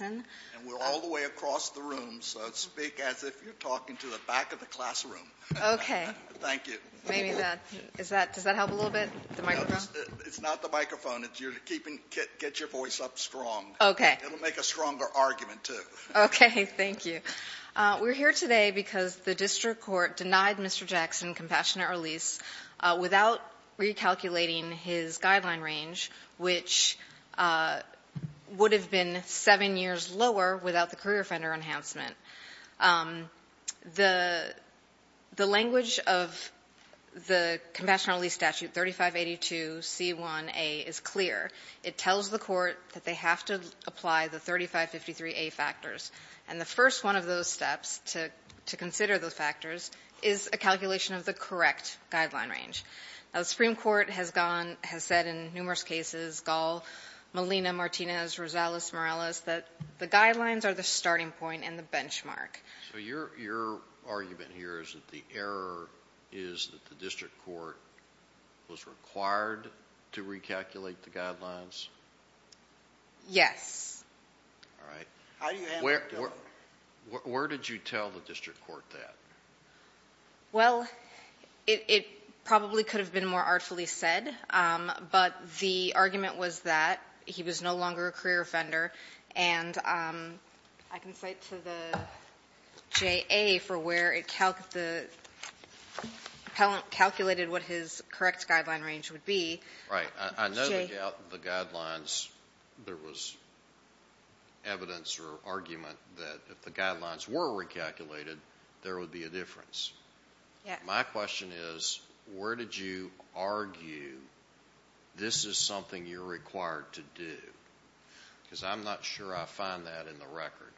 and we're all the way across the room, so speak as if you're talking to the back of the classroom. Okay. Thank you. Maybe that, is that, does that help a little bit, the microphone? It's not the microphone, you're keeping, get your voice up strong. Okay. It'll make a stronger argument, too. Okay, thank you. We're here today because the district court denied Mr. Jackson compassionate release without recalculating his guideline range, which would have been seven years lower without the career offender enhancement. The, the language of the compassionate release statute 3582C1A is clear. It tells the court that they have to apply the 3553A factors. And the first one of those steps to, to consider those factors is a calculation of the correct guideline range. Now the Supreme Court has gone, has said in numerous cases, Gall, Molina, Martinez, Rosales, Morales, that the guidelines are the starting point and the benchmark. So your, your argument here is that the error is that the district court was required to recalculate the guidelines? Yes. All right. How do you handle that? Where did you tell the district court that? Well, it, it probably could have been more artfully said. But the argument was that he was no longer a career offender. And I can cite to the JA for where it calculated what his correct guideline range would be. Right. I know the guidelines, there was evidence or argument that if the guidelines were recalculated, there would be a difference. Yeah. My question is, where did you argue this is something you're required to do? Because I'm not sure I find that in the record.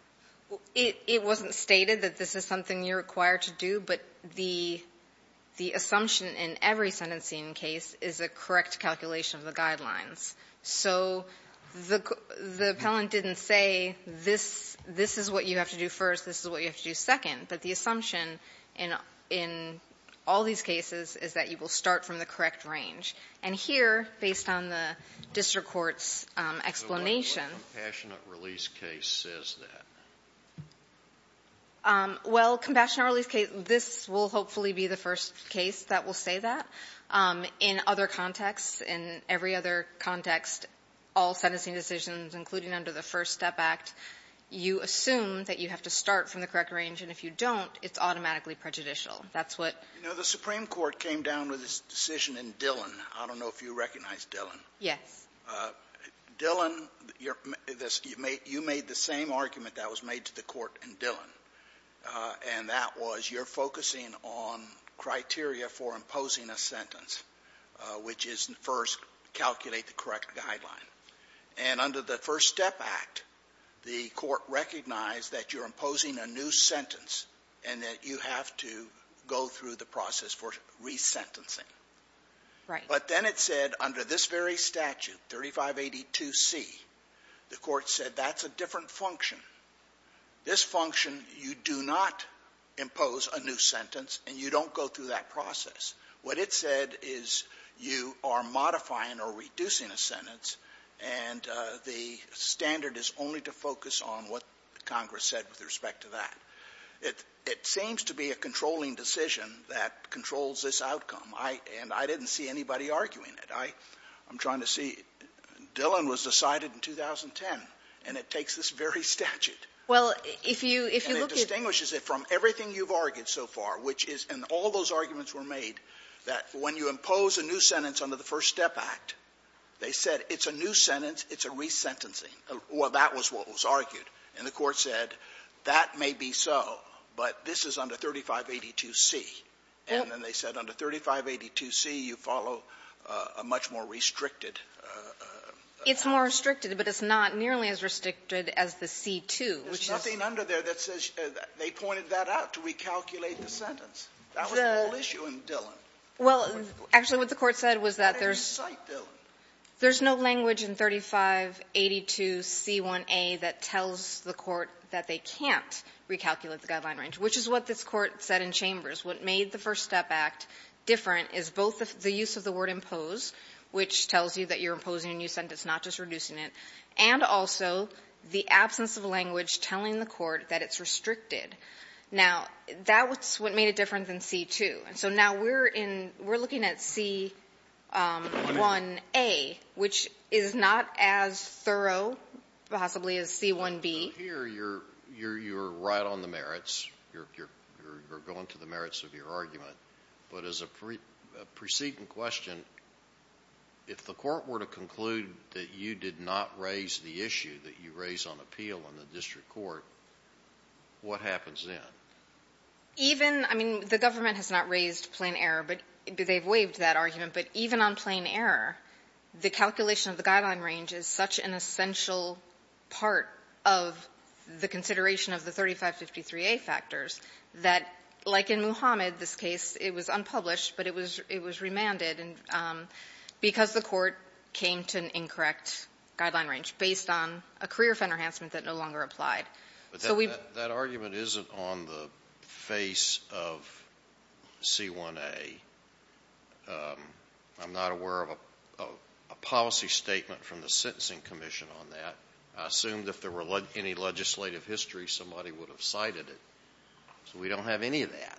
Well, it, it wasn't stated that this is something you're required to do. But the, the assumption in every sentencing case is a correct calculation of the guidelines. So the, the appellant didn't say this, this is what you have to do first. This is what you have to do second. But the assumption in, in all these cases is that you will start from the correct range. And here, based on the district court's explanation. So what compassionate release case says that? Well, compassionate release case, this will hopefully be the first case that will say that. In other contexts, in every other context, all sentencing decisions, including under the First Step Act, you assume that you have to start from the correct range. And if you don't, it's automatically prejudicial. That's what. You know, the Supreme Court came down with this decision in Dillon. I don't know if you recognize Dillon. Yes. Dillon, you're, you made the same argument that was made to the Court in Dillon. And that was, you're focusing on criteria for imposing a sentence, which is first, calculate the correct guideline. And under the First Step Act, the Court recognized that you're imposing a new sentence and that you have to go through the process for resentencing. Right. But then it said under this very statute, 3582C, the Court said that's a different function. This function, you do not impose a new sentence and you don't go through that process. What it said is you are modifying or reducing a sentence, and the standard is only to focus on what Congress said with respect to that. It seems to be a controlling decision that controls this outcome. And I didn't see anybody arguing it. I'm trying to see. Dillon was decided in 2010, and it takes this very statute. Well, if you look at the ---- And it distinguishes it from everything you've argued so far, which is, and all those arguments were made, that when you impose a new sentence under the First Step Act, they said it's a new sentence, it's a resentencing. Well, that was what was argued. And the Court said that may be so, but this is under 3582C. And then they said under 3582C, you follow a much more restricted ---- It's more restricted, but it's not nearly as restricted as the C-2, which is ---- There's nothing under there that says they pointed that out to recalculate the sentence. That was the whole issue in Dillon. Well, actually, what the Court said was that there's no language in 3582C1A that tells the Court that they can't recalculate the guideline range, which is what this Court said in Chambers. What made the First Step Act different is both the use of the word impose, which tells you that you're imposing a new sentence, not just reducing it, and also the absence of language telling the Court that it's restricted. Now, that's what made it different than C-2. So now we're in ---- we're looking at C-1A, which is not as thorough possibly as C-1B. So here you're right on the merits. You're going to the merits of your argument. But as a preceding question, if the Court were to conclude that you did not raise the issue that you raise on appeal in the district court, what happens then? Even ---- I mean, the government has not raised plain error, but they've waived that argument. But even on plain error, the calculation of the guideline range is such an essential part of the consideration of the 3553A factors that, like in Muhammad, this case, it was unpublished, but it was remanded. And because the Court came to an incorrect guideline range based on a career of enhancement that no longer applied. So we ---- But that argument isn't on the face of C-1A. I'm not aware of a policy statement from the Sentencing Commission on that. I assumed if there were any legislative history, somebody would have cited it. So we don't have any of that.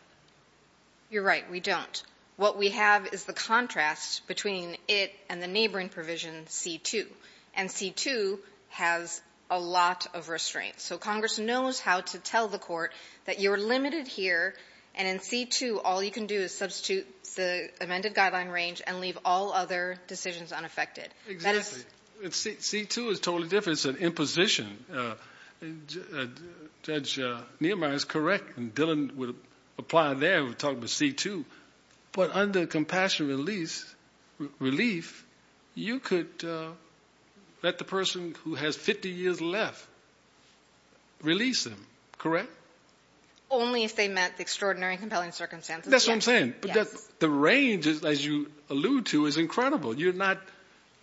You're right. We don't. What we have is the contrast between it and the neighboring provision, C-2. And C-2 has a lot of restraints. So Congress knows how to tell the Court that you're limited here, and in C-2, all you can do is substitute the amended guideline range and leave all other decisions unaffected. That is ---- Exactly. C-2 is totally different. It's an imposition. Judge Niemeyer is correct. And Dillon would apply there. We're talking about C-2. But under compassion relief, you could let the person who has 50 years left release them, correct? Only if they met the extraordinary and compelling circumstances. That's what I'm saying. But the range, as you allude to, is incredible. You're not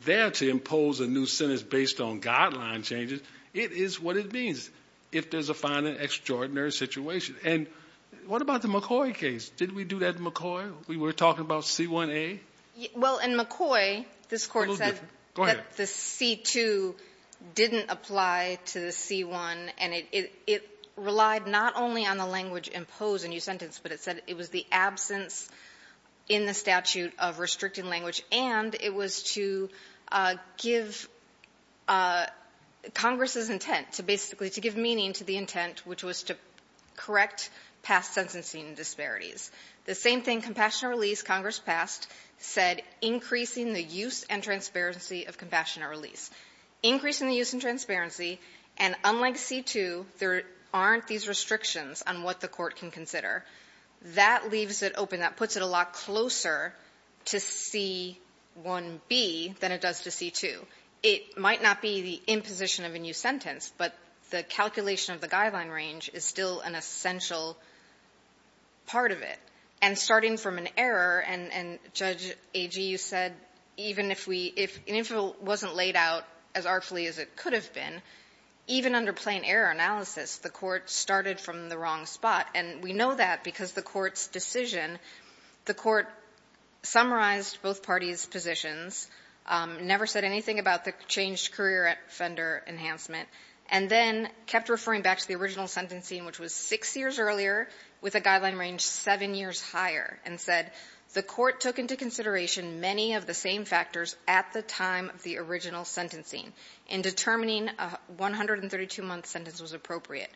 there to impose a new sentence based on guideline changes. It is what it means if there's a fine and extraordinary situation. And what about the McCoy case? Did we do that in McCoy? We were talking about C-1a? Well, in McCoy, this Court said that the C-2 didn't apply to the C-1. And it relied not only on the language imposed in your sentence, but it said it was the absence in the statute of restricting language, and it was to give Congress's intent, to basically to give meaning to the intent, which was to correct past sentencing disparities. The same thing, compassionate release, Congress passed, said increasing the use and transparency of compassionate release. Increasing the use and transparency, and unlike C-2, there aren't these restrictions on what the Court can consider. That leaves it open. That puts it a lot closer to C-1b than it does to C-2. It might not be the imposition of a new sentence, but the calculation of the guideline range is still an essential part of it. And starting from an error, and, Judge Agee, you said, even if we — if it wasn't laid out as artfully as it could have been, even under plain error analysis, the Court started from the wrong spot. And we know that because the Court's decision, the Court summarized both parties' positions, never said anything about the changed career offender enhancement, and then kept referring back to the original sentencing, which was six years earlier, with a guideline range seven years higher, and said the Court took into consideration many of the same factors at the time of the original sentencing in determining a 132-month sentence was appropriate.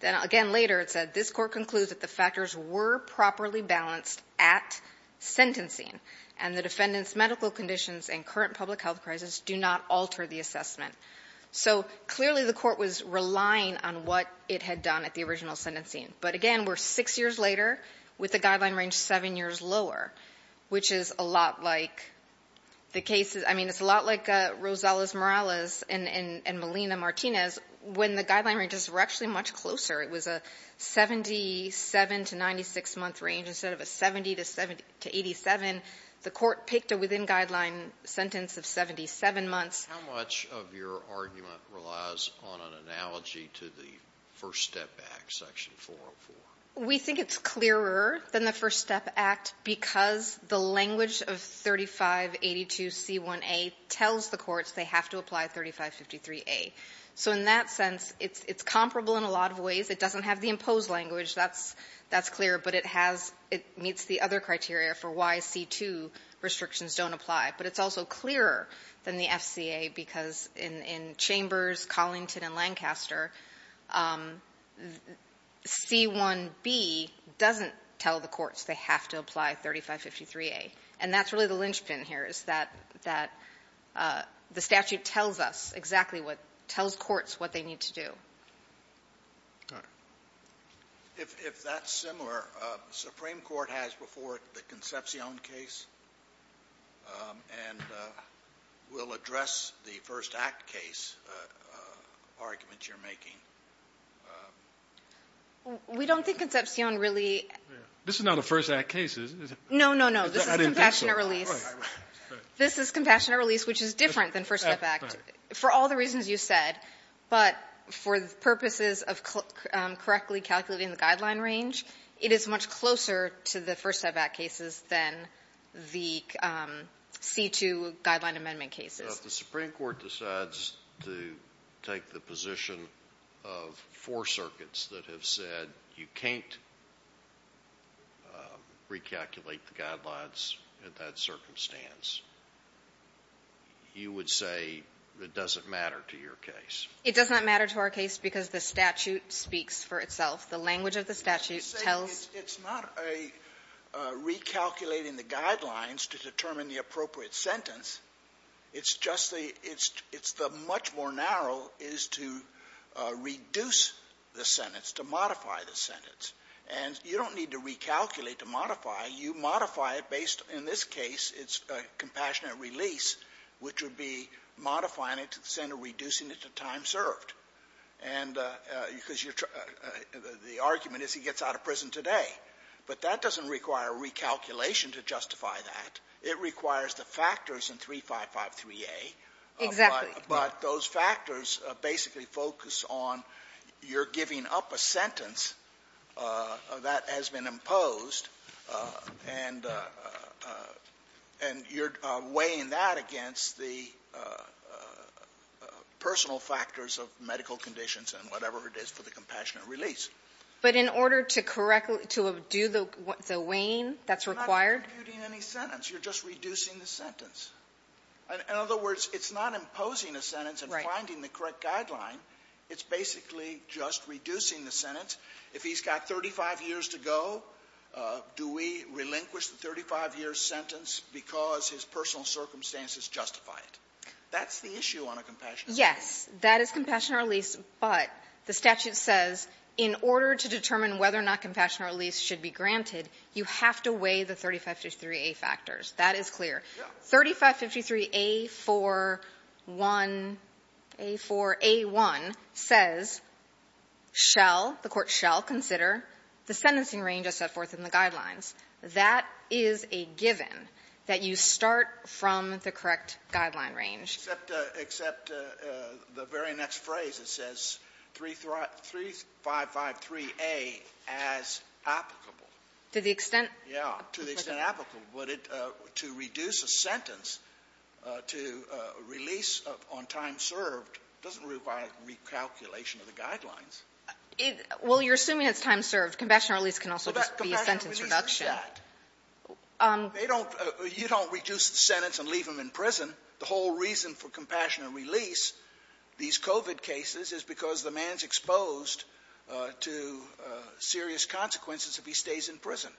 Then, again, later it said, this Court concludes that the factors were properly balanced at sentencing, and the defendant's medical conditions and current public health crisis do not alter the assessment. So, clearly, the Court was relying on what it had done at the original sentencing. But, again, we're six years later with a guideline range seven years lower, which is a lot like the cases — I mean, it's a lot like Rosales-Morales and Molina-Martinez when the guideline ranges were actually much closer. It was a 77-to-96-month range. Instead of a 70-to-87, the Court picked a within-guideline sentence of 77 months. How much of your argument relies on an analogy to the First Step Act, Section 404? We think it's clearer than the First Step Act because the language of 3582C1A tells the courts they have to apply 3553A. So in that sense, it's comparable in a lot of ways. It doesn't have the imposed language. That's clear. But it has — it meets the other criteria for why C2 restrictions don't apply. But it's also clearer than the FCA because in Chambers, Collington, and Lancaster, C1B doesn't tell the courts they have to apply 3553A. And that's really the linchpin here is that the statute tells us exactly what — tells courts what they need to do. All right. If that's similar, the Supreme Court has before it the Concepcion case and will address the First Act case argument you're making. We don't think Concepcion really — This is not a First Act case, is it? No, no, no. This is Compassionate Release. This is Compassionate Release, which is different than First Step Act. For all the reasons you said, but for the purposes of correctly calculating the guideline range, it is much closer to the First Step Act cases than the C2 guideline amendment cases. If the Supreme Court decides to take the position of four circuits that have said you can't recalculate the guidelines in that circumstance, you would say it doesn't matter to your case. It does not matter to our case because the statute speaks for itself. The language of the statute tells — It's not a recalculating the guidelines to determine the appropriate sentence. It's just the — it's the much more narrow is to reduce the sentence, to modify the sentence. And you don't need to recalculate to modify. You modify it based, in this case, it's Compassionate Release, which would be modifying it to the sentence or reducing it to time served. And because you're — the argument is he gets out of prison today. But that doesn't require recalculation to justify that. It requires the factors in 3553A. Exactly. But those factors basically focus on you're giving up a sentence that has been imposed, and you're weighing that against the personal factors of medical conditions and whatever it is for the Compassionate Release. But in order to correct — to do the weighing that's required? You're not computing any sentence. You're just reducing the sentence. In other words, it's not imposing a sentence and finding the correct guideline. It's basically just reducing the sentence. If he's got 35 years to go, do we relinquish the 35-year sentence because his personal circumstances justify it? That's the issue on a Compassionate Release. Yes. That is Compassionate Release, but the statute says in order to determine whether or not Compassionate Release should be granted, you have to weigh the 3553A factors. That is clear. Yeah. 3553A-4-1 — A-4 — A-1 says, shall, the Court shall consider the sentencing range as set forth in the Guidelines. That is a given, that you start from the correct Guideline range. Except the very next phrase. It says 3553A as applicable. To the extent? Yeah. To the extent applicable. But to reduce a sentence, to release on time served, doesn't require recalculation of the Guidelines. Well, you're assuming it's time served. Compassionate Release can also just be a sentence reduction. Well, but Compassionate Release is that. They don't — you don't reduce the sentence and leave him in prison. The whole reason for Compassionate Release, these COVID cases, is because the man's exposed to serious consequences if he stays in prison.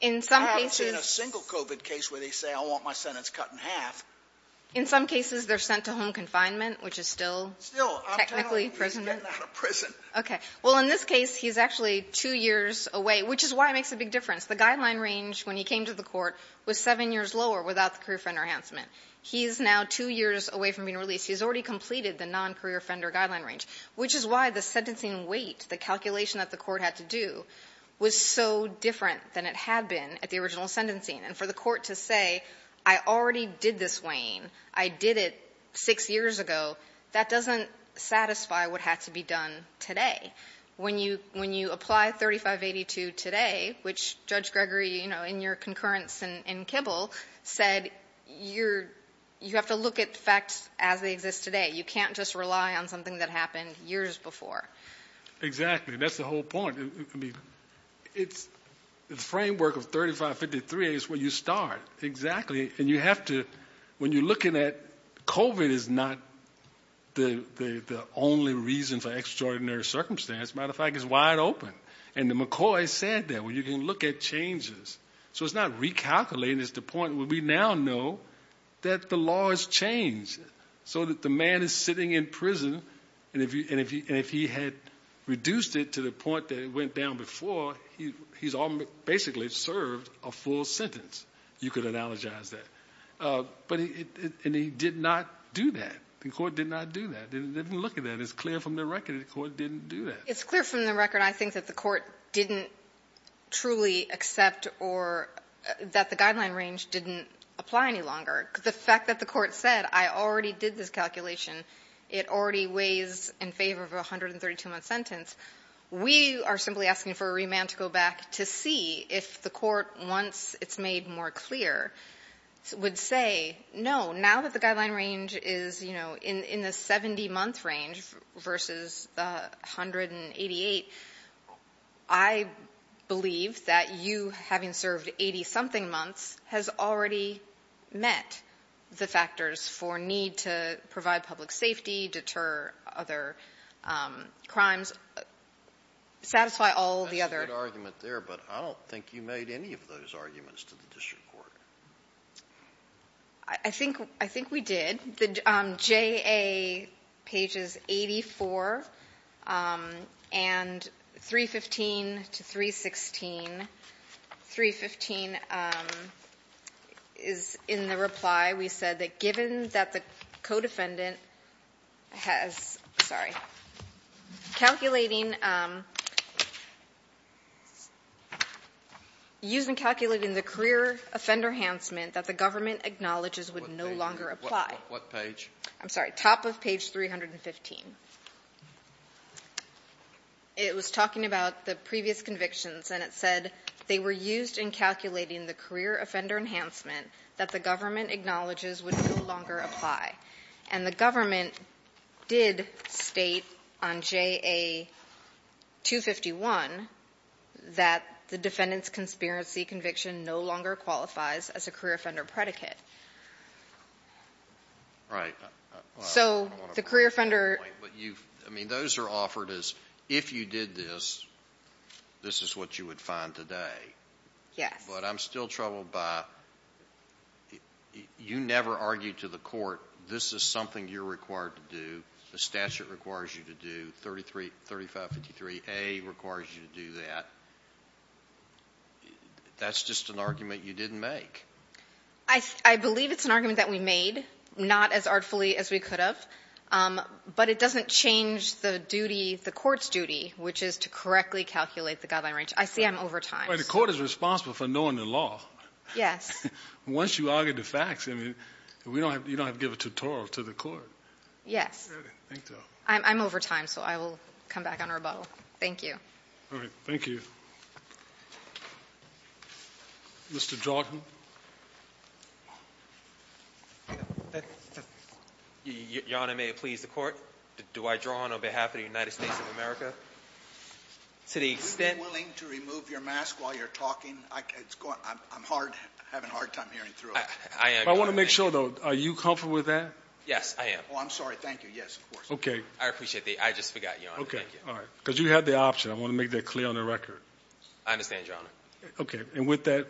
In some cases — I haven't seen a single COVID case where they say, I want my sentence cut in half. In some cases, they're sent to home confinement, which is still technically — Still. I'm telling you, he's getting out of prison. Okay. Well, in this case, he's actually two years away, which is why it makes a big difference. The Guideline range, when he came to the Court, was seven years lower without the Guideline range. He is now two years away from being released. He's already completed the non-career offender Guideline range, which is why the sentencing weight, the calculation that the Court had to do, was so different than it had been at the original sentencing. And for the Court to say, I already did this weighing, I did it six years ago, that doesn't satisfy what had to be done today. When you — when you apply 3582 today, which Judge Gregory, you know, in your concurrence in Kibble, said you're — you have to look at facts as they exist today. You can't just rely on something that happened years before. Exactly. That's the whole point. I mean, it's — the framework of 3553 is where you start. Exactly. And you have to — when you're looking at — COVID is not the only reason for extraordinary circumstance. Matter of fact, it's wide open. And McCoy said that, where you can look at changes. So it's not recalculating. It's the point where we now know that the law has changed, so that the man is sitting in prison, and if he had reduced it to the point that it went down before, he's already basically served a full sentence. You could analogize that. But he — and he did not do that. The Court did not do that. They didn't look at that. It's clear from the record that the Court didn't do that. It's clear from the record, I think, that the Court didn't truly accept or — that the guideline range didn't apply any longer. The fact that the Court said, I already did this calculation. It already weighs in favor of a 132-month sentence. We are simply asking for a remand to go back to see if the Court, once it's made more clear, would say, no, now that the guideline range is, you know, in the 70-month range versus the 188, I believe that you, having served 80-something months, has already met the factors for need to provide public safety, deter other crimes, satisfy all the other — That's a good argument there, but I don't think you made any of those arguments to the district court. I think — I think we did. The JA, pages 84 and 315 to 316, 315 is in the reply. We said that given that the co-defendant has — sorry. Calculating — used in calculating the career offender enhancement that the government acknowledges would no longer apply. What page? I'm sorry. Top of page 315. It was talking about the previous convictions, and it said they were used in calculating the career offender enhancement that the government acknowledges would no longer apply, and the government did state on JA 251 that the defendant's conspiracy conviction no longer qualifies as a career offender predicate. Right. So the career offender — I mean, those are offered as if you did this, this is what you would find today. Yes. But I'm still troubled by — you never argued to the court this is something you're required to do, the statute requires you to do, 3553A requires you to do that. That's just an argument you didn't make. I believe it's an argument that we made, not as artfully as we could have. But it doesn't change the duty, the court's duty, which is to correctly calculate the guideline range. I see I'm over time. But the court is responsible for knowing the law. Yes. Once you argue the facts, I mean, you don't have to give a tutorial to the court. Yes. I didn't think so. I'm over time, so I will come back on rebuttal. Thank you. All right. Thank you. Mr. Jordan. Your Honor, may it please the court, do I draw on behalf of the United States of America to the extent — Are you willing to remove your mask while you're talking? I'm having a hard time hearing through it. I want to make sure, though, are you comfortable with that? Yes, I am. Oh, I'm sorry. Thank you. Yes, of course. Okay. I appreciate the — I just forgot, Your Honor. Thank you. Okay. All right. Because you had the option. I want to make that clear on the record. I understand, Your Honor. Okay. And with that,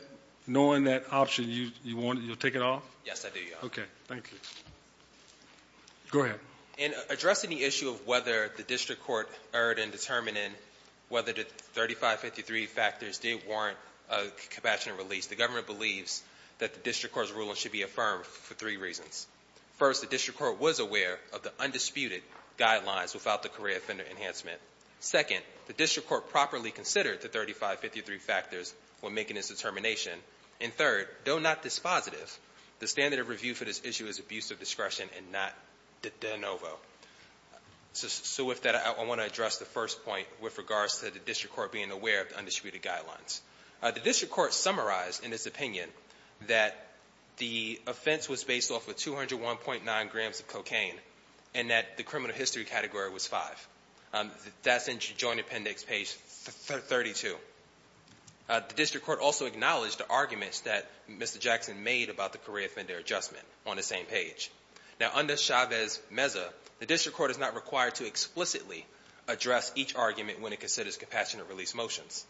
knowing that option, you'll take it off? Yes, I do, Your Honor. Okay. Thank you. Go ahead. In addressing the issue of whether the district court erred in determining whether the 3553 factors did warrant a compassionate release, the government believes that the district court's ruling should be affirmed for three reasons. First, the district court was aware of the undisputed guidelines without the career offender enhancement. Second, the district court properly considered the 3553 factors when making its determination. And third, though not dispositive, the standard of review for this issue is abuse of discretion and not de novo. So with that, I want to address the first point with regards to the district court being aware of the undisputed guidelines. The district court summarized in its opinion that the offense was based off of 201.9 grams of cocaine and that the criminal history category was five. That's in joint appendix page 32. The district court also acknowledged the arguments that Mr. Jackson made about the career offender adjustment on the same page. Now, under Chavez-Meza, the district court is not required to explicitly address each argument when it considers compassionate release motions.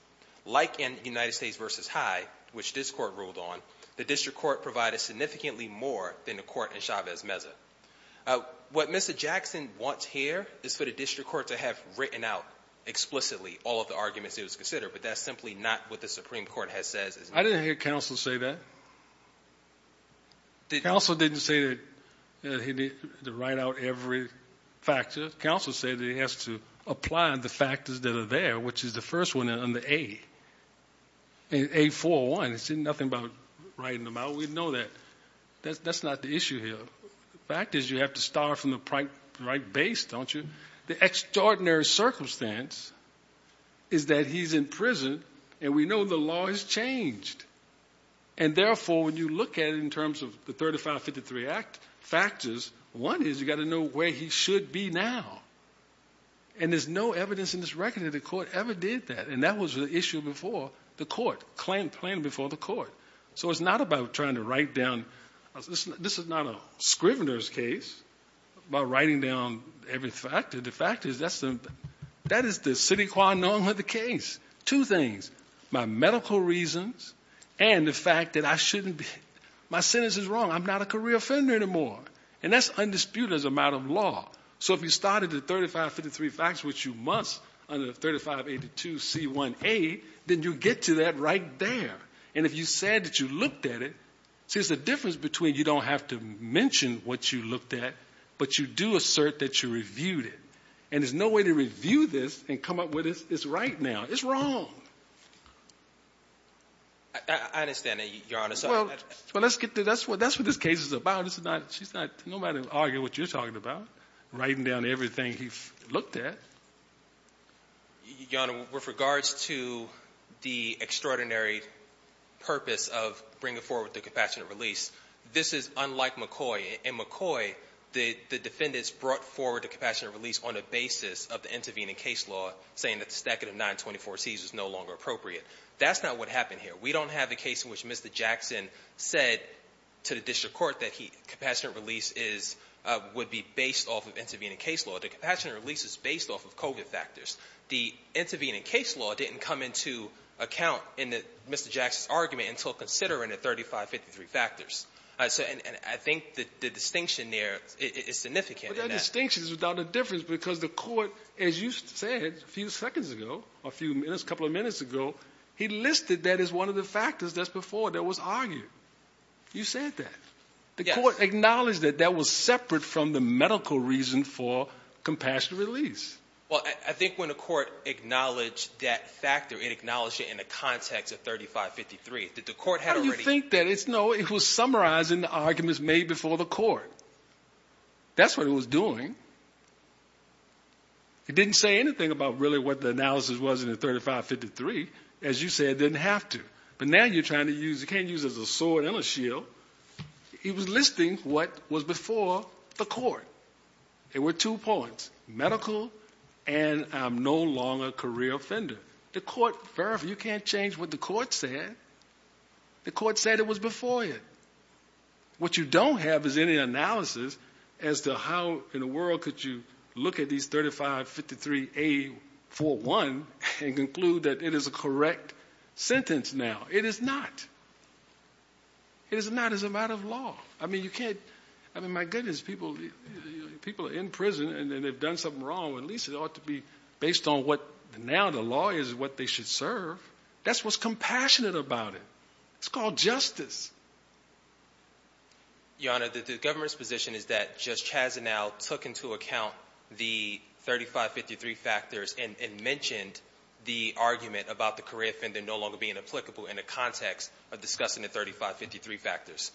Like in United States v. High, which this court ruled on, the district court provided significantly more than the court in Chavez-Meza. What Mr. Jackson wants here is for the district court to have written out explicitly all of the arguments it was considered, but that's simply not what the Supreme Court has said. I didn't hear counsel say that. Counsel didn't say that he had to write out every factor. Counsel said that he has to apply the factors that are there, which is the first one on the A. A-4-1. It's nothing about writing them out. We know that. That's not the issue here. The fact is you have to start from the right base, don't you? The extraordinary circumstance is that he's in prison, and we know the law has changed. And therefore, when you look at it in terms of the 3553 Act factors, one is you've got to know where he should be now. And there's no evidence in this record that the court ever did that. And that was the issue before the court, claimed before the court. So it's not about trying to write down. This is not a scrivener's case about writing down every factor. The fact is that is the citiqua norm of the case. Two things, my medical reasons and the fact that I shouldn't be. My sentence is wrong. I'm not a career offender anymore. And that's undisputed as a matter of law. So if you started the 3553 facts, which you must under 3582C1A, then you get to that right there. And if you said that you looked at it, see, there's a difference between you don't have to mention what you looked at, but you do assert that you reviewed it. And there's no way to review this and come up with this right now. It's wrong. I understand that, Your Honor. Well, let's get to it. That's what this case is about. She's not going to argue what you're talking about, writing down everything he's looked at. Your Honor, with regards to the extraordinary purpose of bringing forward the compassionate release, this is unlike McCoy. In McCoy, the defendants brought forward the compassionate release on the basis of the intervening case law, saying that the stacking of 924Cs was no longer appropriate. That's not what happened here. We don't have a case in which Mr. Jackson said to the district court that compassionate release would be based off of intervening case law. The compassionate release is based off of COVID factors. The intervening case law didn't come into account in Mr. Jackson's argument until considering the 3553 factors. And I think the distinction there is significant in that. But that distinction is without a difference because the Court, as you said a few seconds ago, he listed that as one of the factors that's before that was argued. You said that. The Court acknowledged that that was separate from the medical reason for compassionate release. Well, I think when the Court acknowledged that factor, it acknowledged it in the context of 3553. How do you think that is? No, it was summarizing the arguments made before the Court. That's what it was doing. It didn't say anything about really what the analysis was in the 3553. As you said, it didn't have to. But now you're trying to use it. You can't use it as a sword and a shield. It was listing what was before the Court. There were two points, medical and I'm no longer a career offender. The Court verified. You can't change what the Court said. The Court said it was before it. What you don't have is any analysis as to how in the world could you look at these 3553A41 and conclude that it is a correct sentence now. It is not. It is not as a matter of law. I mean, you can't. I mean, my goodness, people are in prison and they've done something wrong. At least it ought to be based on what now the law is what they should serve. That's what's compassionate about it. It's called justice. Your Honor, the government's position is that Judge Chazanow took into account the 3553 factors and mentioned the argument about the career offender no longer being applicable in the context of discussing the 3553 factors.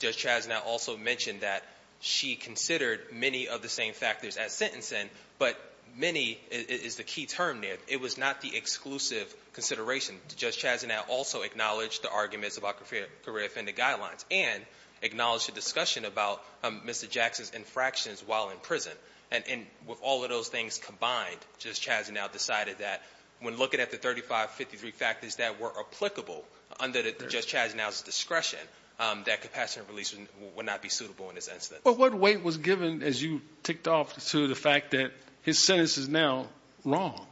Judge Chazanow also mentioned that she considered many of the same factors as sentencing, but many is the key term there. It was not the exclusive consideration. Judge Chazanow also acknowledged the arguments about career offender guidelines and acknowledged the discussion about Mr. Jackson's infractions while in prison. And with all of those things combined, Judge Chazanow decided that when looking at the 3553 factors that were applicable under Judge Chazanow's discretion, that compassionate release would not be suitable in this instance. But what weight was given, as you ticked off, to the fact that his sentence is now wrong?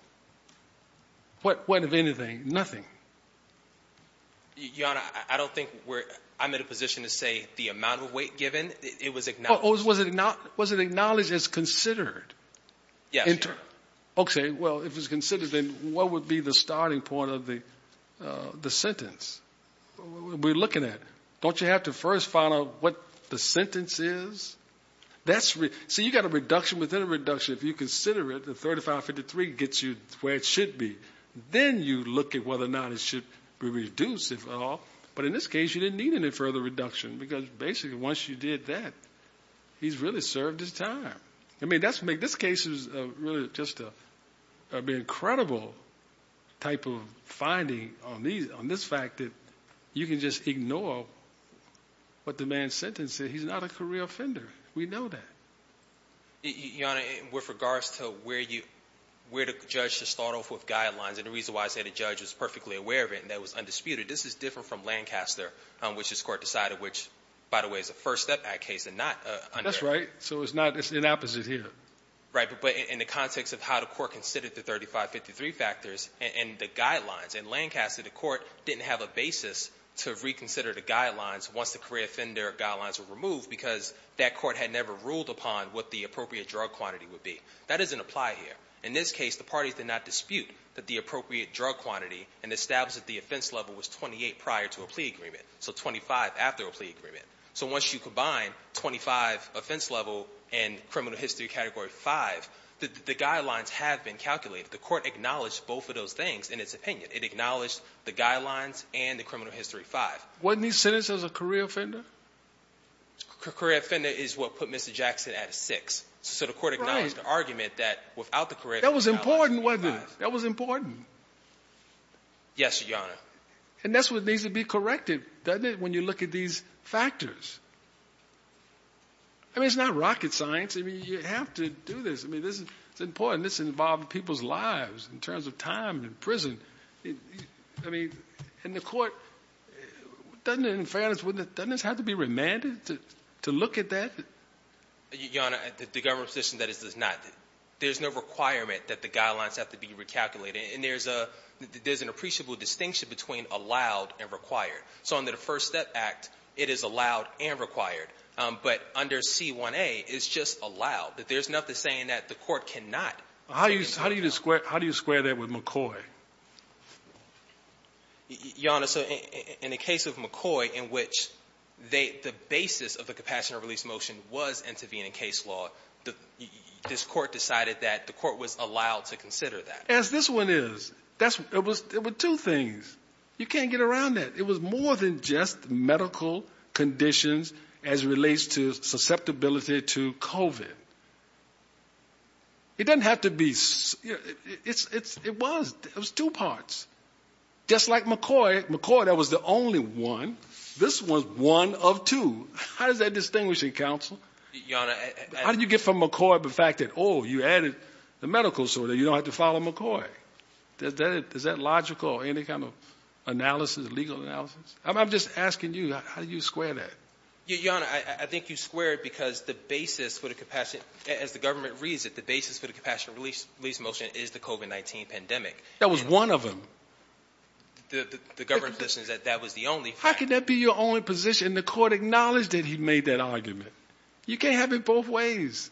What, if anything, nothing? Your Honor, I don't think I'm in a position to say the amount of weight given. It was acknowledged. Was it acknowledged as considered? Yes. Okay, well, if it's considered, then what would be the starting point of the sentence? We're looking at it. Don't you have to first find out what the sentence is? See, you've got a reduction within a reduction. If you consider it, the 3553 gets you where it should be. Then you look at whether or not it should be reduced, if at all. But in this case, you didn't need any further reduction because, basically, once you did that, he's really served his time. I mean, this case is really just an incredible type of finding on this fact that you can just ignore what the man's sentence is. He's not a career offender. We know that. Your Honor, with regards to where the judge should start off with guidelines, and the reason why I say the judge was perfectly aware of it and that it was undisputed, this is different from Lancaster, which this Court decided, which, by the way, is a First Step Act case and not under it. That's right. So it's not, it's the opposite here. Right, but in the context of how the Court considered the 3553 factors and the guidelines, in Lancaster the Court didn't have a basis to reconsider the guidelines once the career offender guidelines were removed because that Court had never ruled upon what the appropriate drug quantity would be. That doesn't apply here. In this case, the parties did not dispute that the appropriate drug quantity and established that the offense level was 28 prior to a plea agreement, so 25 after a plea agreement. So once you combine 25 offense level and criminal history category 5, the guidelines have been calculated. The Court acknowledged both of those things in its opinion. It acknowledged the guidelines and the criminal history 5. Wasn't he sentenced as a career offender? Career offender is what put Mr. Jackson at 6. So the Court acknowledged the argument that without the career offender guidelines. That was important, wasn't it? That was important. Yes, Your Honor. And that's what needs to be corrected, doesn't it, when you look at these factors? I mean, it's not rocket science. I mean, you have to do this. I mean, this is important. This involves people's lives in terms of time in prison. I mean, and the Court, doesn't it, in fairness, doesn't this have to be remanded to look at that? Your Honor, the government position that it does not. There's no requirement that the guidelines have to be recalculated. And there's an appreciable distinction between allowed and required. So under the First Step Act, it is allowed and required. But under C-1A, it's just allowed. There's nothing saying that the Court cannot. How do you square that with McCoy? Your Honor, so in the case of McCoy, in which the basis of the compassionate release motion was intervening in case law, this Court decided that the Court was allowed to consider that. As this one is. It was two things. You can't get around that. It was more than just medical conditions as it relates to susceptibility to COVID. It doesn't have to be. It was. It was two parts. Just like McCoy, McCoy, that was the only one. This was one of two. How is that distinguishing, counsel? Your Honor, I. How did you get from McCoy the fact that, oh, you added the medical disorder. You don't have to follow McCoy. Is that logical or any kind of analysis, legal analysis? I'm just asking you, how do you square that? Your Honor, I think you square it because the basis for the compassionate, as the government reads it, the basis for the compassionate release motion is the COVID-19 pandemic. That was one of them. The government positions that that was the only. How can that be your only position? The Court acknowledged that he made that argument. You can't have it both ways.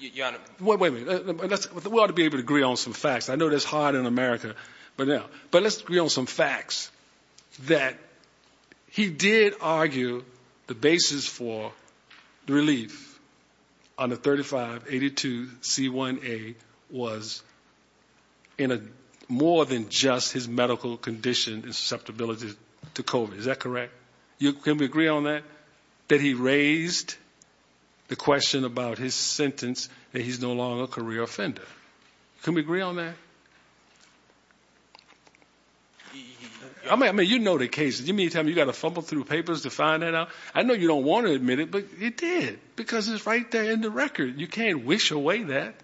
Your Honor. Wait a minute. We ought to be able to agree on some facts. I know that's hard in America. But let's agree on some facts. That he did argue the basis for the relief on the 3582C1A was in a more than just his medical condition and susceptibility to COVID. Is that correct? Can we agree on that? That he raised the question about his sentence that he's no longer a career offender. Can we agree on that? I mean, you know the cases. You mean to tell me you've got to fumble through papers to find that out? I know you don't want to admit it, but it did because it's right there in the record. You can't wish away that.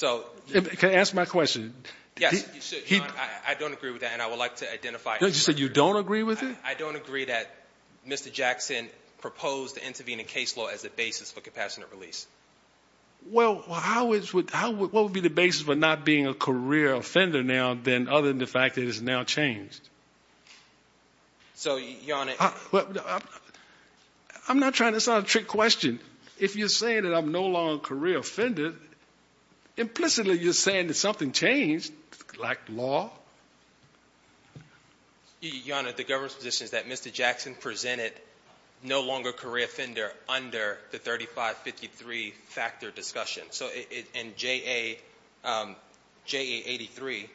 Can I ask my question? Yes, you should, Your Honor. I don't agree with that, and I would like to identify it. You said you don't agree with it? I don't agree that Mr. Jackson proposed to intervene in case law as a basis for compassionate release. Well, what would be the basis for not being a career offender now other than the fact that it's now changed? So, Your Honor. I'm not trying to sound like a trick question. If you're saying that I'm no longer a career offender, implicitly you're saying that something changed, like law. Your Honor, the government's position is that Mr. Jackson presented no longer career offender under the 3553 factor discussion. So, in JA83,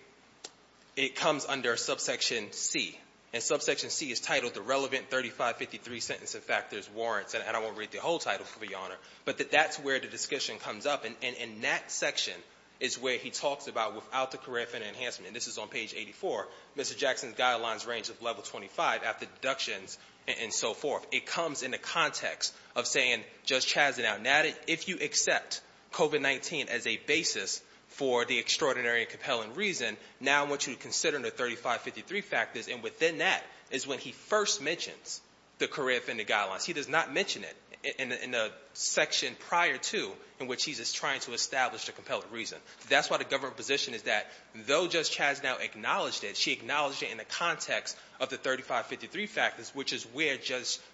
it comes under subsection C. And subsection C is titled The Relevant 3553 Sentencing Factors, Warrants, and I won't read the whole title for you, Your Honor. But that's where the discussion comes up, and in that section is where he talks about without the career offender enhancement. And this is on page 84. Mr. Jackson's guidelines range of level 25 after deductions and so forth. It comes in the context of saying Judge Chaz did not add it. If you accept COVID-19 as a basis for the extraordinary and compelling reason, now I want you to consider the 3553 factors. And within that is when he first mentions the career offender guidelines. He does not mention it in the section prior to in which he's just trying to establish the compelling reason. That's why the government position is that though Judge Chaz now acknowledged it, she acknowledged it in the context of the 3553 factors, which is where,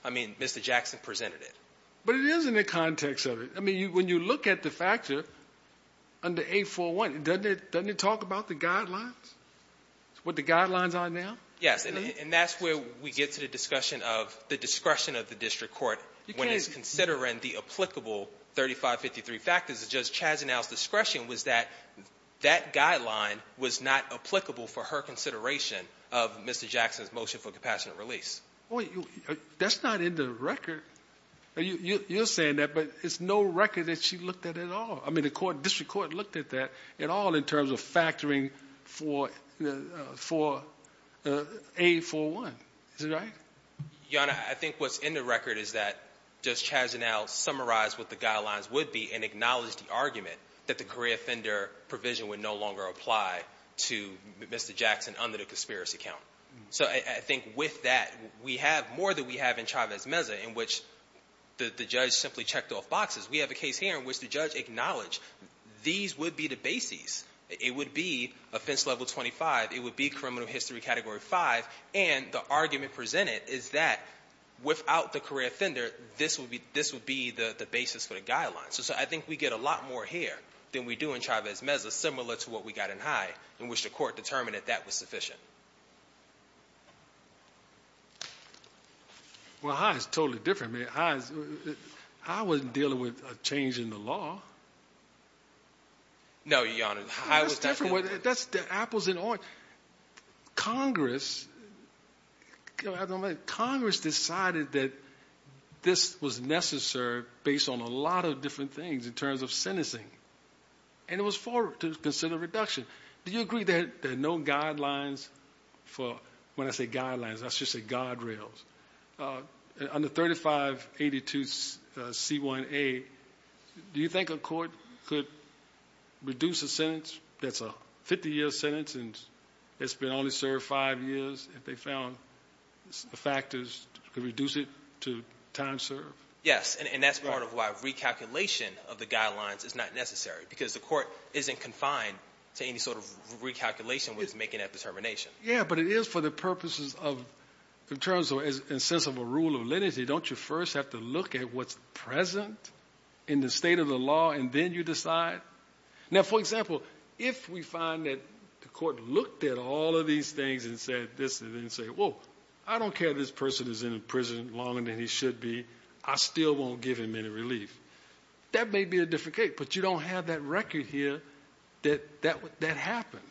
I mean, Mr. Jackson presented it. But it is in the context of it. I mean, when you look at the factor under 841, doesn't it talk about the guidelines, what the guidelines are now? Yes, and that's where we get to the discussion of the discretion of the district court when it's considering the applicable 3553 factors. Judge Chaz's discretion was that that guideline was not applicable for her consideration of Mr. Jackson's motion for compassionate release. That's not in the record. You're saying that, but it's no record that she looked at at all. I mean, the district court looked at that at all in terms of factoring for 841. Is that right? Your Honor, I think what's in the record is that Judge Chaz now summarized what the guidelines would be and acknowledged the argument that the career offender provision would no longer apply to Mr. Jackson under the conspiracy count. So I think with that, we have more than we have in Chavez Meza in which the judge simply checked off boxes. We have a case here in which the judge acknowledged these would be the bases. It would be offense level 25. It would be criminal history category 5. And the argument presented is that without the career offender, this would be the basis for the guidelines. So I think we get a lot more here than we do in Chavez Meza, similar to what we got in High, in which the court determined that that was sufficient. Well, High is totally different, man. High wasn't dealing with a change in the law. No, Your Honor. High was not dealing with that. That's different. That's the apples and oranges. Well, Congress decided that this was necessary based on a lot of different things in terms of sentencing. And it was forward to consider reduction. Do you agree that there are no guidelines for when I say guidelines, I should say guardrails? Under 3582C1A, do you think a court could reduce a sentence that's a 50-year sentence and it's been only served five years if they found factors to reduce it to time served? Yes, and that's part of why recalculation of the guidelines is not necessary because the court isn't confined to any sort of recalculation when it's making that determination. Yeah, but it is for the purposes of in terms of in a sense of a rule of lineage. Don't you first have to look at what's present in the state of the law, and then you decide? Now, for example, if we find that the court looked at all of these things and said this and then said, whoa, I don't care if this person is in prison longer than he should be. I still won't give him any relief. That may be a different case, but you don't have that record here that that happened.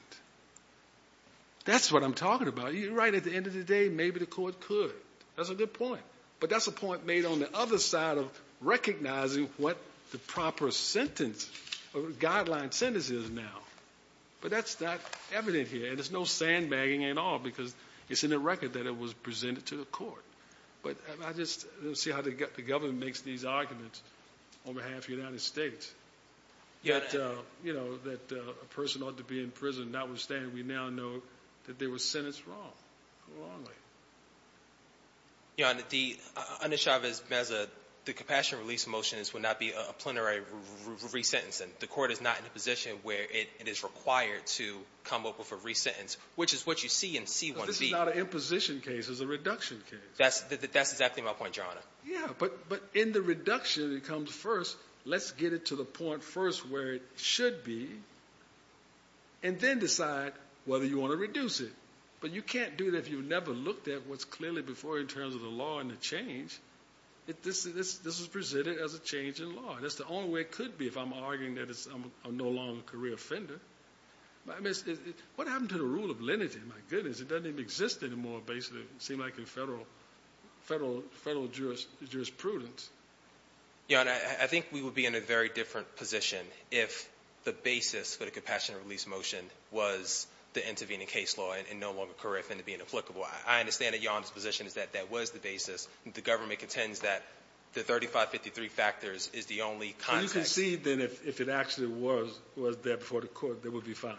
That's what I'm talking about. You're right. At the end of the day, maybe the court could. That's a good point. But that's a point made on the other side of recognizing what the proper sentence or guideline sentence is now. But that's not evident here, and there's no sandbagging at all because it's in the record that it was presented to the court. But I just don't see how the government makes these arguments on behalf of the United States that a person ought to be in prison. Notwithstanding, we now know that they were sentenced wrong, wrongly. Yeah, and the under Chavez-Meza, the compassion relief motions would not be a plenary resentencing. The court is not in a position where it is required to come up with a resentence, which is what you see in C-1B. This is not an imposition case. It's a reduction case. That's exactly my point, Your Honor. Yeah, but in the reduction, it comes first. Let's get it to the point first where it should be, and then decide whether you want to reduce it. But you can't do that if you've never looked at what's clearly before in terms of the law and the change. This is presented as a change in law. That's the only way it could be if I'm arguing that I'm no longer a career offender. What happened to the rule of lenity? My goodness, it doesn't even exist anymore, basically. It seemed like in federal jurisprudence. Your Honor, I think we would be in a very different position if the basis for the compassion relief motion was the intervening case law and no longer a career offender being applicable. I understand that Your Honor's position is that that was the basis. The government contends that the 3553 factors is the only context. Well, you can see then if it actually was there before the court, they would be fine.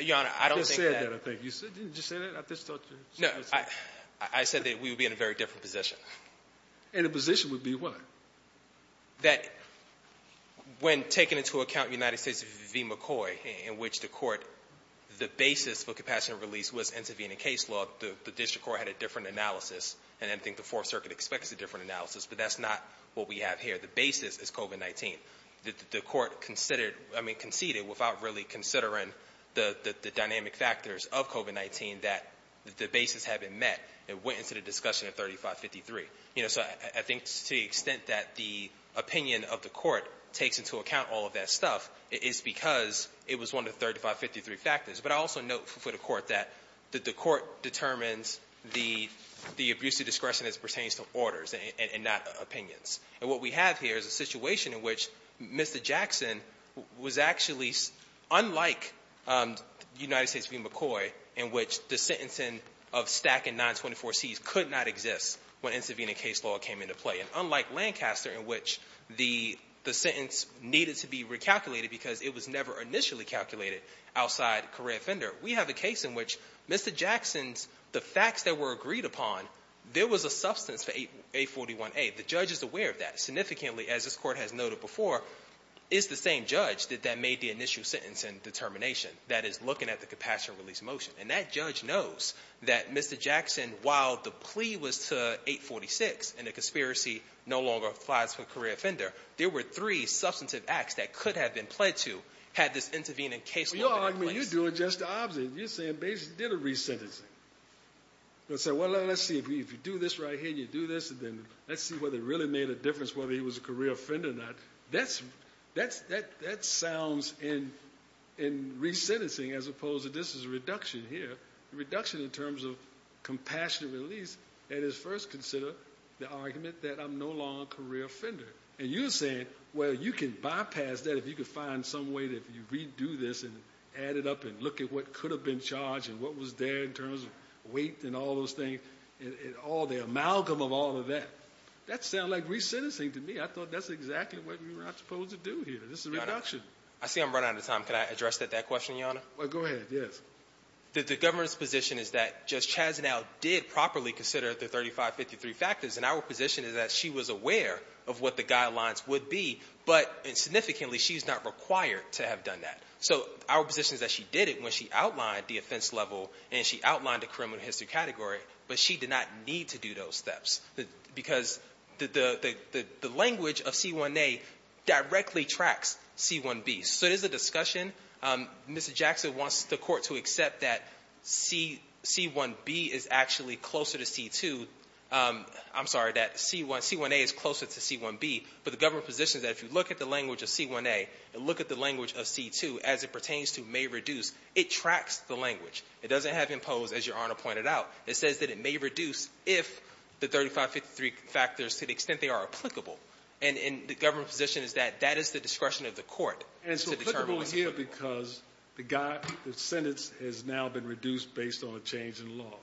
Your Honor, I don't think that. You just said that, I think. Did you just say that? No, I said that we would be in a very different position. In a position would be what? That when taken into account in the United States v. McCoy, in which the court, the basis for compassion relief was intervening case law, the district court had a different analysis, and I think the Fourth Circuit expects a different analysis, but that's not what we have here. The basis is COVID-19. The court conceded without really considering the dynamic factors of COVID-19 that the basis had been met and went into the discussion of 3553. So I think to the extent that the opinion of the court takes into account all of that stuff is because it was one of the 3553 factors. But I also note for the court that the court determines the abuse of discretion as pertains to orders and not opinions. And what we have here is a situation in which Mr. Jackson was actually, unlike United States v. McCoy, in which the sentencing of Stack and 924Cs could not exist when intervening case law came into play, and unlike Lancaster in which the sentence needed to be recalculated because it was never initially calculated outside career offender, we have a case in which Mr. Jackson's, the facts that were agreed upon, there was a substance to 841A. The judge is aware of that. Significantly, as this court has noted before, it's the same judge that made the initial sentence and determination, that is looking at the compassion of release motion. And that judge knows that Mr. Jackson, while the plea was to 846 and the conspiracy no longer applies for career offender, there were three substantive acts that could have been pled to had this intervening case law been in place. Well, you're arguing, you're doing just the opposite. You're saying Bayes did a resentencing. Let's say, well, let's see, if you do this right here, you do this, and then let's see whether it really made a difference whether he was a career offender or not. That sounds in resentencing as opposed to this is a reduction here, a reduction in terms of compassionate release that is first considered the argument that I'm no longer a career offender. And you're saying, well, you can bypass that if you could find some way that if you redo this and add it up and look at what could have been charged and what was there in terms of weight and all those things, all the amalgam of all of that, that sounds like resentencing to me. I thought that's exactly what we were not supposed to do here. This is a reduction. I see I'm running out of time. Can I address that question, Your Honor? Well, go ahead, yes. The governor's position is that Judge Chazanel did properly consider the 3553 factors, and our position is that she was aware of what the guidelines would be, but significantly she's not required to have done that. So our position is that she did it when she outlined the offense level and she outlined the criminal history category, but she did not need to do those steps because the language of C-1A directly tracks C-1B. So it is a discussion. Mr. Jackson wants the Court to accept that C-1B is actually closer to C-2. I'm sorry, that C-1A is closer to C-1B. But the governor's position is that if you look at the language of C-1A and look at the language of C-2, as it pertains to may reduce, it tracks the language. It doesn't have impose, as Your Honor pointed out. It says that it may reduce if the 3553 factors, to the extent they are applicable. And the governor's position is that that is the discretion of the Court. And so applicable here because the sentence has now been reduced based on a change in law.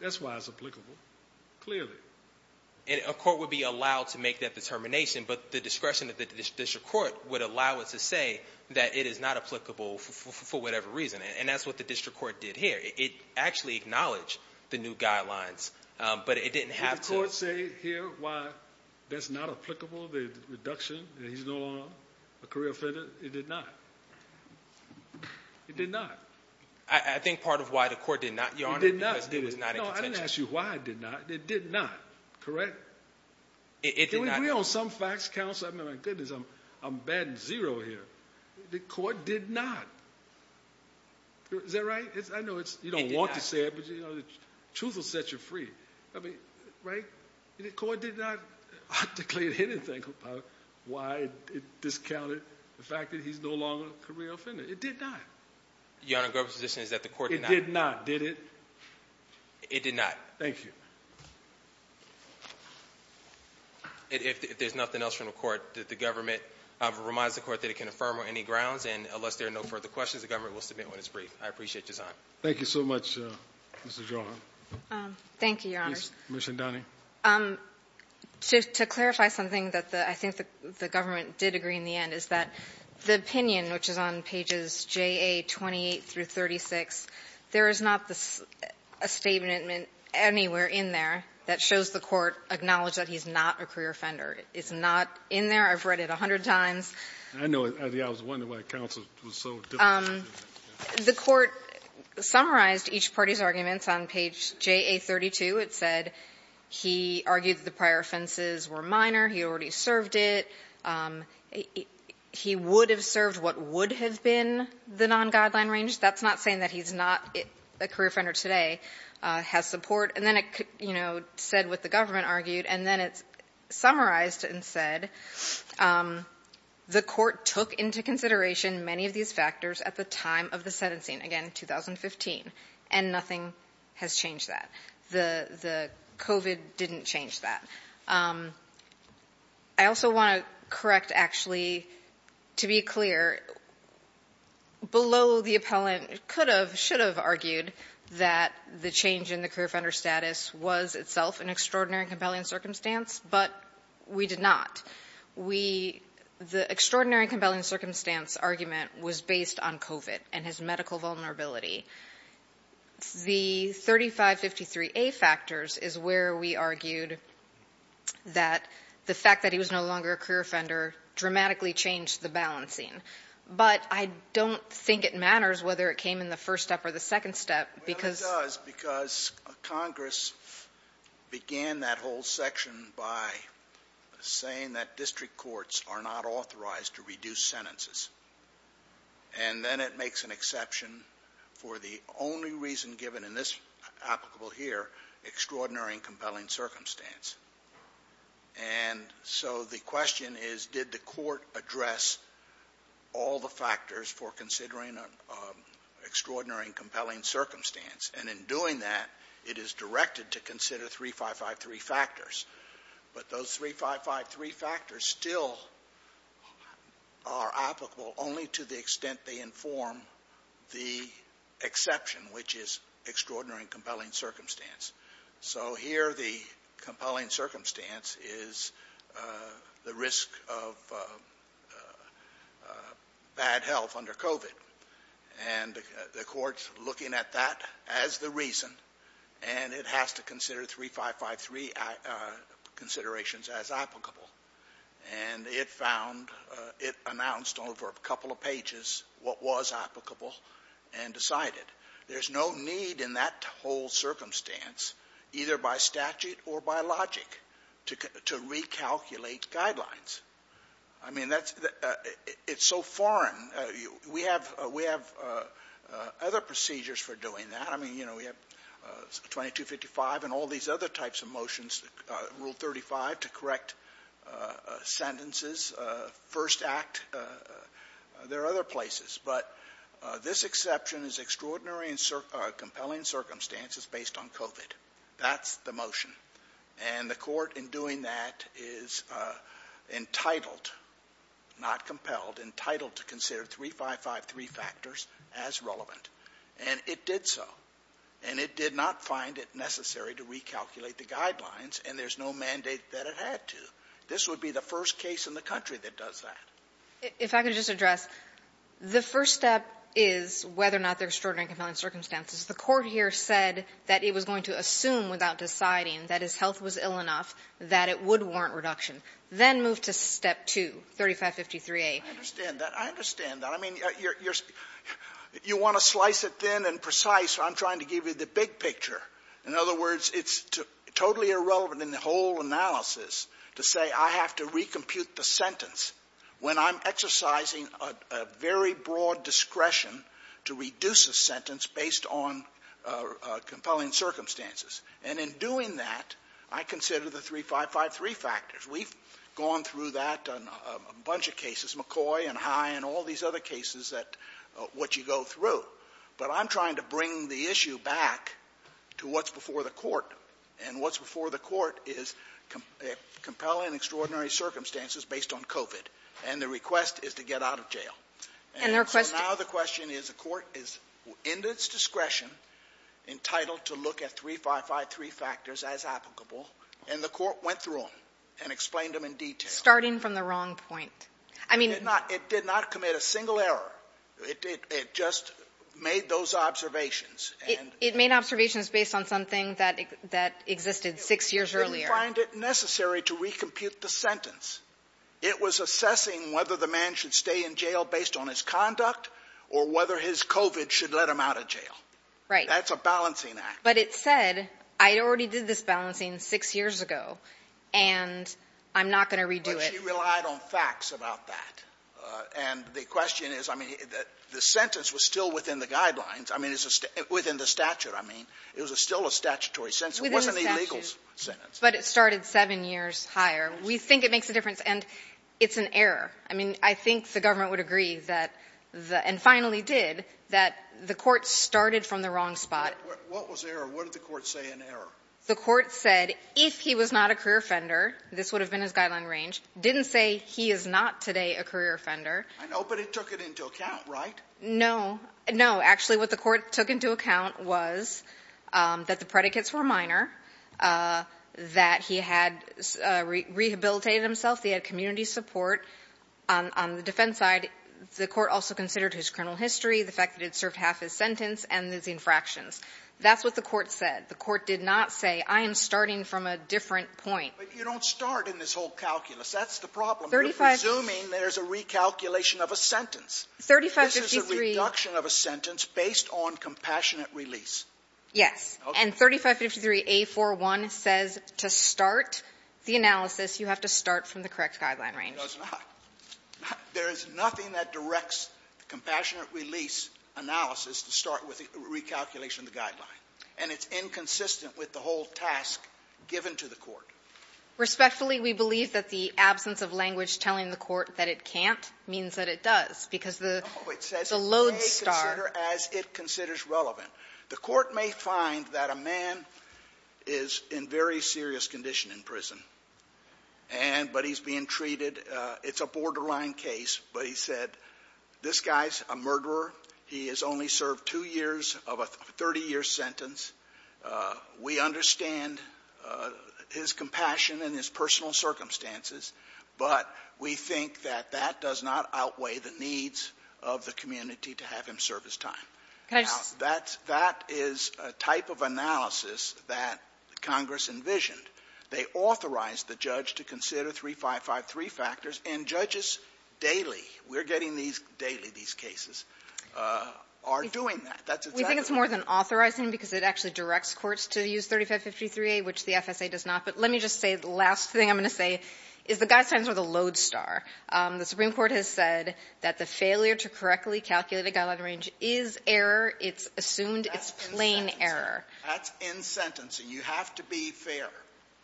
That's why it's applicable, clearly. A court would be allowed to make that determination, but the discretion of the district court would allow it to say that it is not applicable for whatever reason. And that's what the district court did here. It actually acknowledged the new guidelines, but it didn't have to. Did the court say here why that's not applicable, the reduction, that he's no longer a career offender? It did not. It did not. I think part of why the court did not, Your Honor, because it was not in contention. I didn't ask you why it did not. It did not, correct? It did not. Can we agree on some facts, counsel? I mean, my goodness, I'm batting zero here. The court did not. Is that right? I know you don't want to say it, but the truth will set you free. I mean, right? The court did not declare anything about why it discounted the fact that he's no longer a career offender. It did not. Your Honor, the governor's position is that the court did not. It did not, did it? It did not. Thank you. If there's nothing else from the court, the government reminds the court that it can affirm on any grounds, and unless there are no further questions, the government will submit what is brief. I appreciate your time. Thank you so much, Mr. Johan. Thank you, Your Honor. Commissioner Donahue. To clarify something that I think the government did agree in the end is that the opinion, which is on pages J.A. 28 through 36, there is not a statement anywhere in there that shows the court acknowledged that he's not a career offender. It's not in there. I've read it a hundred times. I know. I was wondering why counsel was so different. The court summarized each party's arguments on page J.A. 32. It said he argued that the prior offenses were minor. He already served it. He would have served what would have been the non-guideline range. That's not saying that he's not a career offender today, has support. And then it, you know, said what the government argued, and then it summarized and said the court took into consideration many of these factors at the time of the sentencing, again, 2015, and nothing has changed that. The COVID didn't change that. I also want to correct, actually, to be clear, below the appellant could have, should have argued that the change in the career offender status was itself an extraordinary and compelling circumstance, but we did not. We, the extraordinary and compelling circumstance argument was based on COVID and his medical vulnerability. The 3553A factors is where we argued that the fact that he was no longer a career offender dramatically changed the balancing. But I don't think it matters whether it came in the first step or the second step, because — Well, it does, because Congress began that whole section by saying that district courts are not authorized to reduce sentences. And then it makes an exception for the only reason given in this applicable here, extraordinary and compelling circumstance. And so the question is, did the court address all the factors for considering an extraordinary and compelling circumstance? And in doing that, it is directed to consider 3553 factors. But those 3553 factors still are applicable only to the extent they inform the exception, which is extraordinary and compelling circumstance. So here the compelling circumstance is the risk of bad health under COVID. And the court's looking at that as the reason, and it has to consider 3553 considerations as applicable. And it announced over a couple of pages what was applicable and decided. There's no need in that whole circumstance, either by statute or by logic, to recalculate guidelines. I mean, it's so foreign. We have other procedures for doing that. I mean, you know, we have 2255 and all these other types of motions, Rule 35 to correct sentences, First Act. There are other places. But this exception is extraordinary and compelling circumstances based on COVID. That's the motion. And the court in doing that is entitled, not compelled, entitled to consider 3553 factors as relevant. And it did so. And it did not find it necessary to recalculate the guidelines, and there's no mandate that it had to. This would be the first case in the country that does that. If I could just address, the first step is whether or not there's extraordinary and compelling circumstances. The Court here said that it was going to assume without deciding that his health was ill enough that it would warrant reduction. Then move to Step 2, 3553a. I understand that. I understand that. I mean, you want to slice it thin and precise, I'm trying to give you the big picture. In other words, it's totally irrelevant in the whole analysis to say I have to recompute the sentence when I'm exercising a very broad discretion to reduce a sentence based on compelling circumstances. And in doing that, I consider the 3553 factors. We've gone through that on a bunch of cases, McCoy and High and all these other cases that what you go through. But I'm trying to bring the issue back to what's before the Court. And what's before the Court is compelling and extraordinary circumstances based on COVID. And the request is to get out of jail. And so now the question is the Court is in its discretion, entitled to look at 3553 factors as applicable. And the Court went through them and explained them in detail. Starting from the wrong point. It did not commit a single error. It just made those observations. It made observations based on something that existed six years earlier. It didn't find it necessary to recompute the sentence. It was assessing whether the man should stay in jail based on his conduct or whether his COVID should let him out of jail. Right. That's a balancing act. But it said, I already did this balancing six years ago, and I'm not going to redo it. But she relied on facts about that. And the question is, I mean, the sentence was still within the guidelines. I mean, it's within the statute, I mean. It was still a statutory sentence. It wasn't an illegal sentence. Within the statute. But it started seven years higher. We think it makes a difference. And it's an error. I mean, I think the government would agree that the — and finally did — that the Court started from the wrong spot. What was error? What did the Court say in error? The Court said if he was not a career offender, this would have been his guideline range, didn't say he is not today a career offender. I know. But it took it into account, right? No. No. Actually, what the Court took into account was that the predicates were minor, that he had rehabilitated himself, he had community support. On the defense side, the Court also considered his criminal history, the fact that he had served half his sentence and his infractions. That's what the Court said. The Court did not say, I am starting from a different point. But you don't start in this whole calculus. That's the problem. You're presuming there's a recalculation of a sentence. 3553 — This is a reduction of a sentence based on compassionate release. Yes. And 3553a41 says to start the analysis, you have to start from the correct guideline range. It does not. There is nothing that directs the compassionate release analysis to start with the recalculation of the guideline. And it's inconsistent with the whole task given to the Court. Respectfully, we believe that the absence of language telling the Court that it can't means that it does, because the load star. No. It says it may consider as it considers relevant. The Court may find that a man is in very serious condition in prison, and — but he's being treated — it's a borderline case. But he said, this guy's a murderer. He has only served two years of a 30-year sentence. We understand his compassion and his personal circumstances, but we think that that does not outweigh the needs of the community to have him serve his time. Now, that's — that is a type of analysis that Congress envisioned. They authorized the judge to consider 3553 factors, and judges daily — we're getting these daily, these cases — are doing that. That's what's happening. We think it's more than authorizing because it actually directs courts to use 3553A, which the FSA does not. But let me just say the last thing I'm going to say is the guidelines are the load star. The Supreme Court has said that the failure to correctly calculate a guideline range is error. It's assumed it's plain error. That's in sentencing. That's in sentencing. You have to be fair.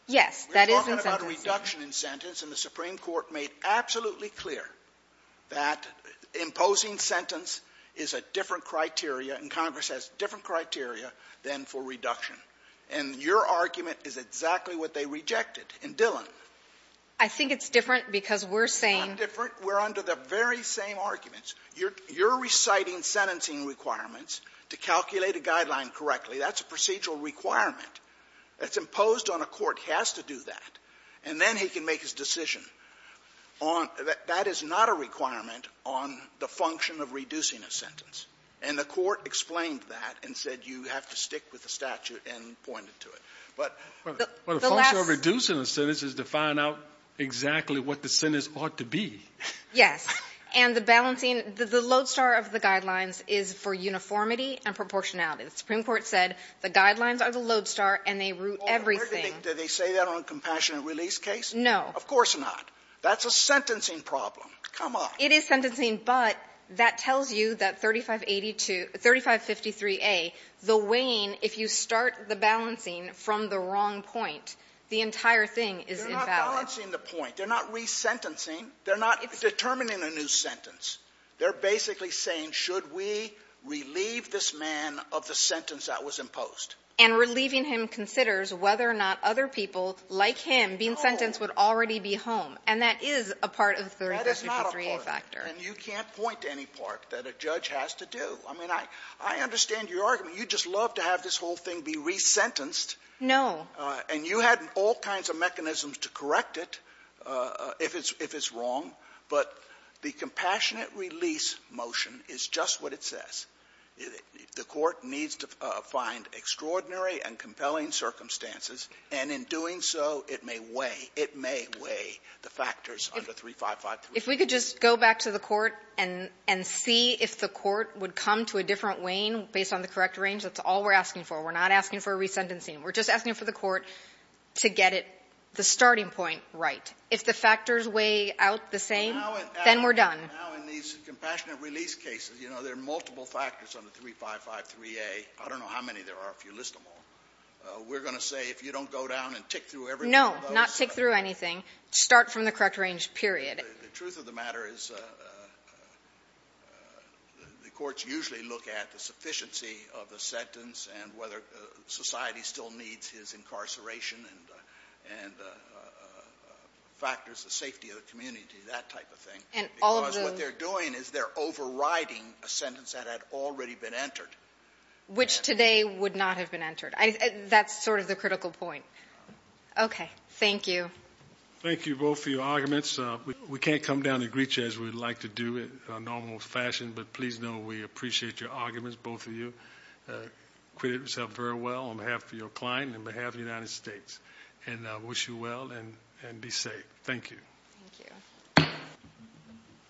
Yes. That is in sentencing. We're talking about a reduction in sentence, and the Supreme Court made absolutely clear that imposing sentence is a different criteria, and Congress has different criteria than for reduction. And your argument is exactly what they rejected in Dillon. I think it's different because we're saying — It's not different. We're under the very same arguments. You're reciting sentencing requirements to calculate a guideline correctly. That's a procedural requirement. It's imposed on a court. It has to do that. And then he can make his decision on — that is not a requirement on the function of reducing a sentence. And the Court explained that and said you have to stick with the statute and pointed to it. But the last — Well, the function of reducing a sentence is to find out exactly what the sentence ought to be. Yes. And the balancing — the load star of the guidelines is for uniformity and proportionality. The Supreme Court said the guidelines are the load star and they root everything. Well, do they say that on a compassionate release case? No. Of course not. That's a sentencing problem. Come on. It is sentencing, but that tells you that 3582 — 3553a, the weighing, if you start the balancing from the wrong point, the entire thing is invalid. They're not balancing the point. They're not resentencing. They're not determining a new sentence. They're basically saying, should we relieve this man of the sentence that was imposed? And relieving him considers whether or not other people like him being sentenced would already be home. And that is a part of the 3553a factor. That is not a part. And you can't point to any part that a judge has to do. I mean, I understand your argument. You'd just love to have this whole thing be resentenced. No. And you had all kinds of mechanisms to correct it if it's wrong. But the compassionate release motion is just what it says. The court needs to find extraordinary and compelling circumstances, and in doing so, it may weigh, it may weigh the factors under 3553. If we could just go back to the court and see if the court would come to a different weighing based on the correct range, that's all we're asking for. We're not asking for a resentencing. We're just asking for the court to get it, the starting point, right. If the factors weigh out the same, then we're done. Now in these compassionate release cases, you know, there are multiple factors under 3553a. I don't know how many there are if you list them all. We're going to say if you don't go down and tick through every one of those. No, not tick through anything. Start from the correct range, period. The truth of the matter is the courts usually look at the sufficiency of the sentence and whether society still needs his incarceration and factors the safety of the community, that type of thing, because what they're doing is they're overriding a sentence that had already been entered. Which today would not have been entered. That's sort of the critical point. Okay. Thank you. Thank you both for your arguments. We can't come down and greet you as we would like to do in a normal fashion, but please know we appreciate your arguments, both of you. Acquitted yourself very well on behalf of your client and on behalf of the United States. And I wish you well and be safe. Thank you. Thank you.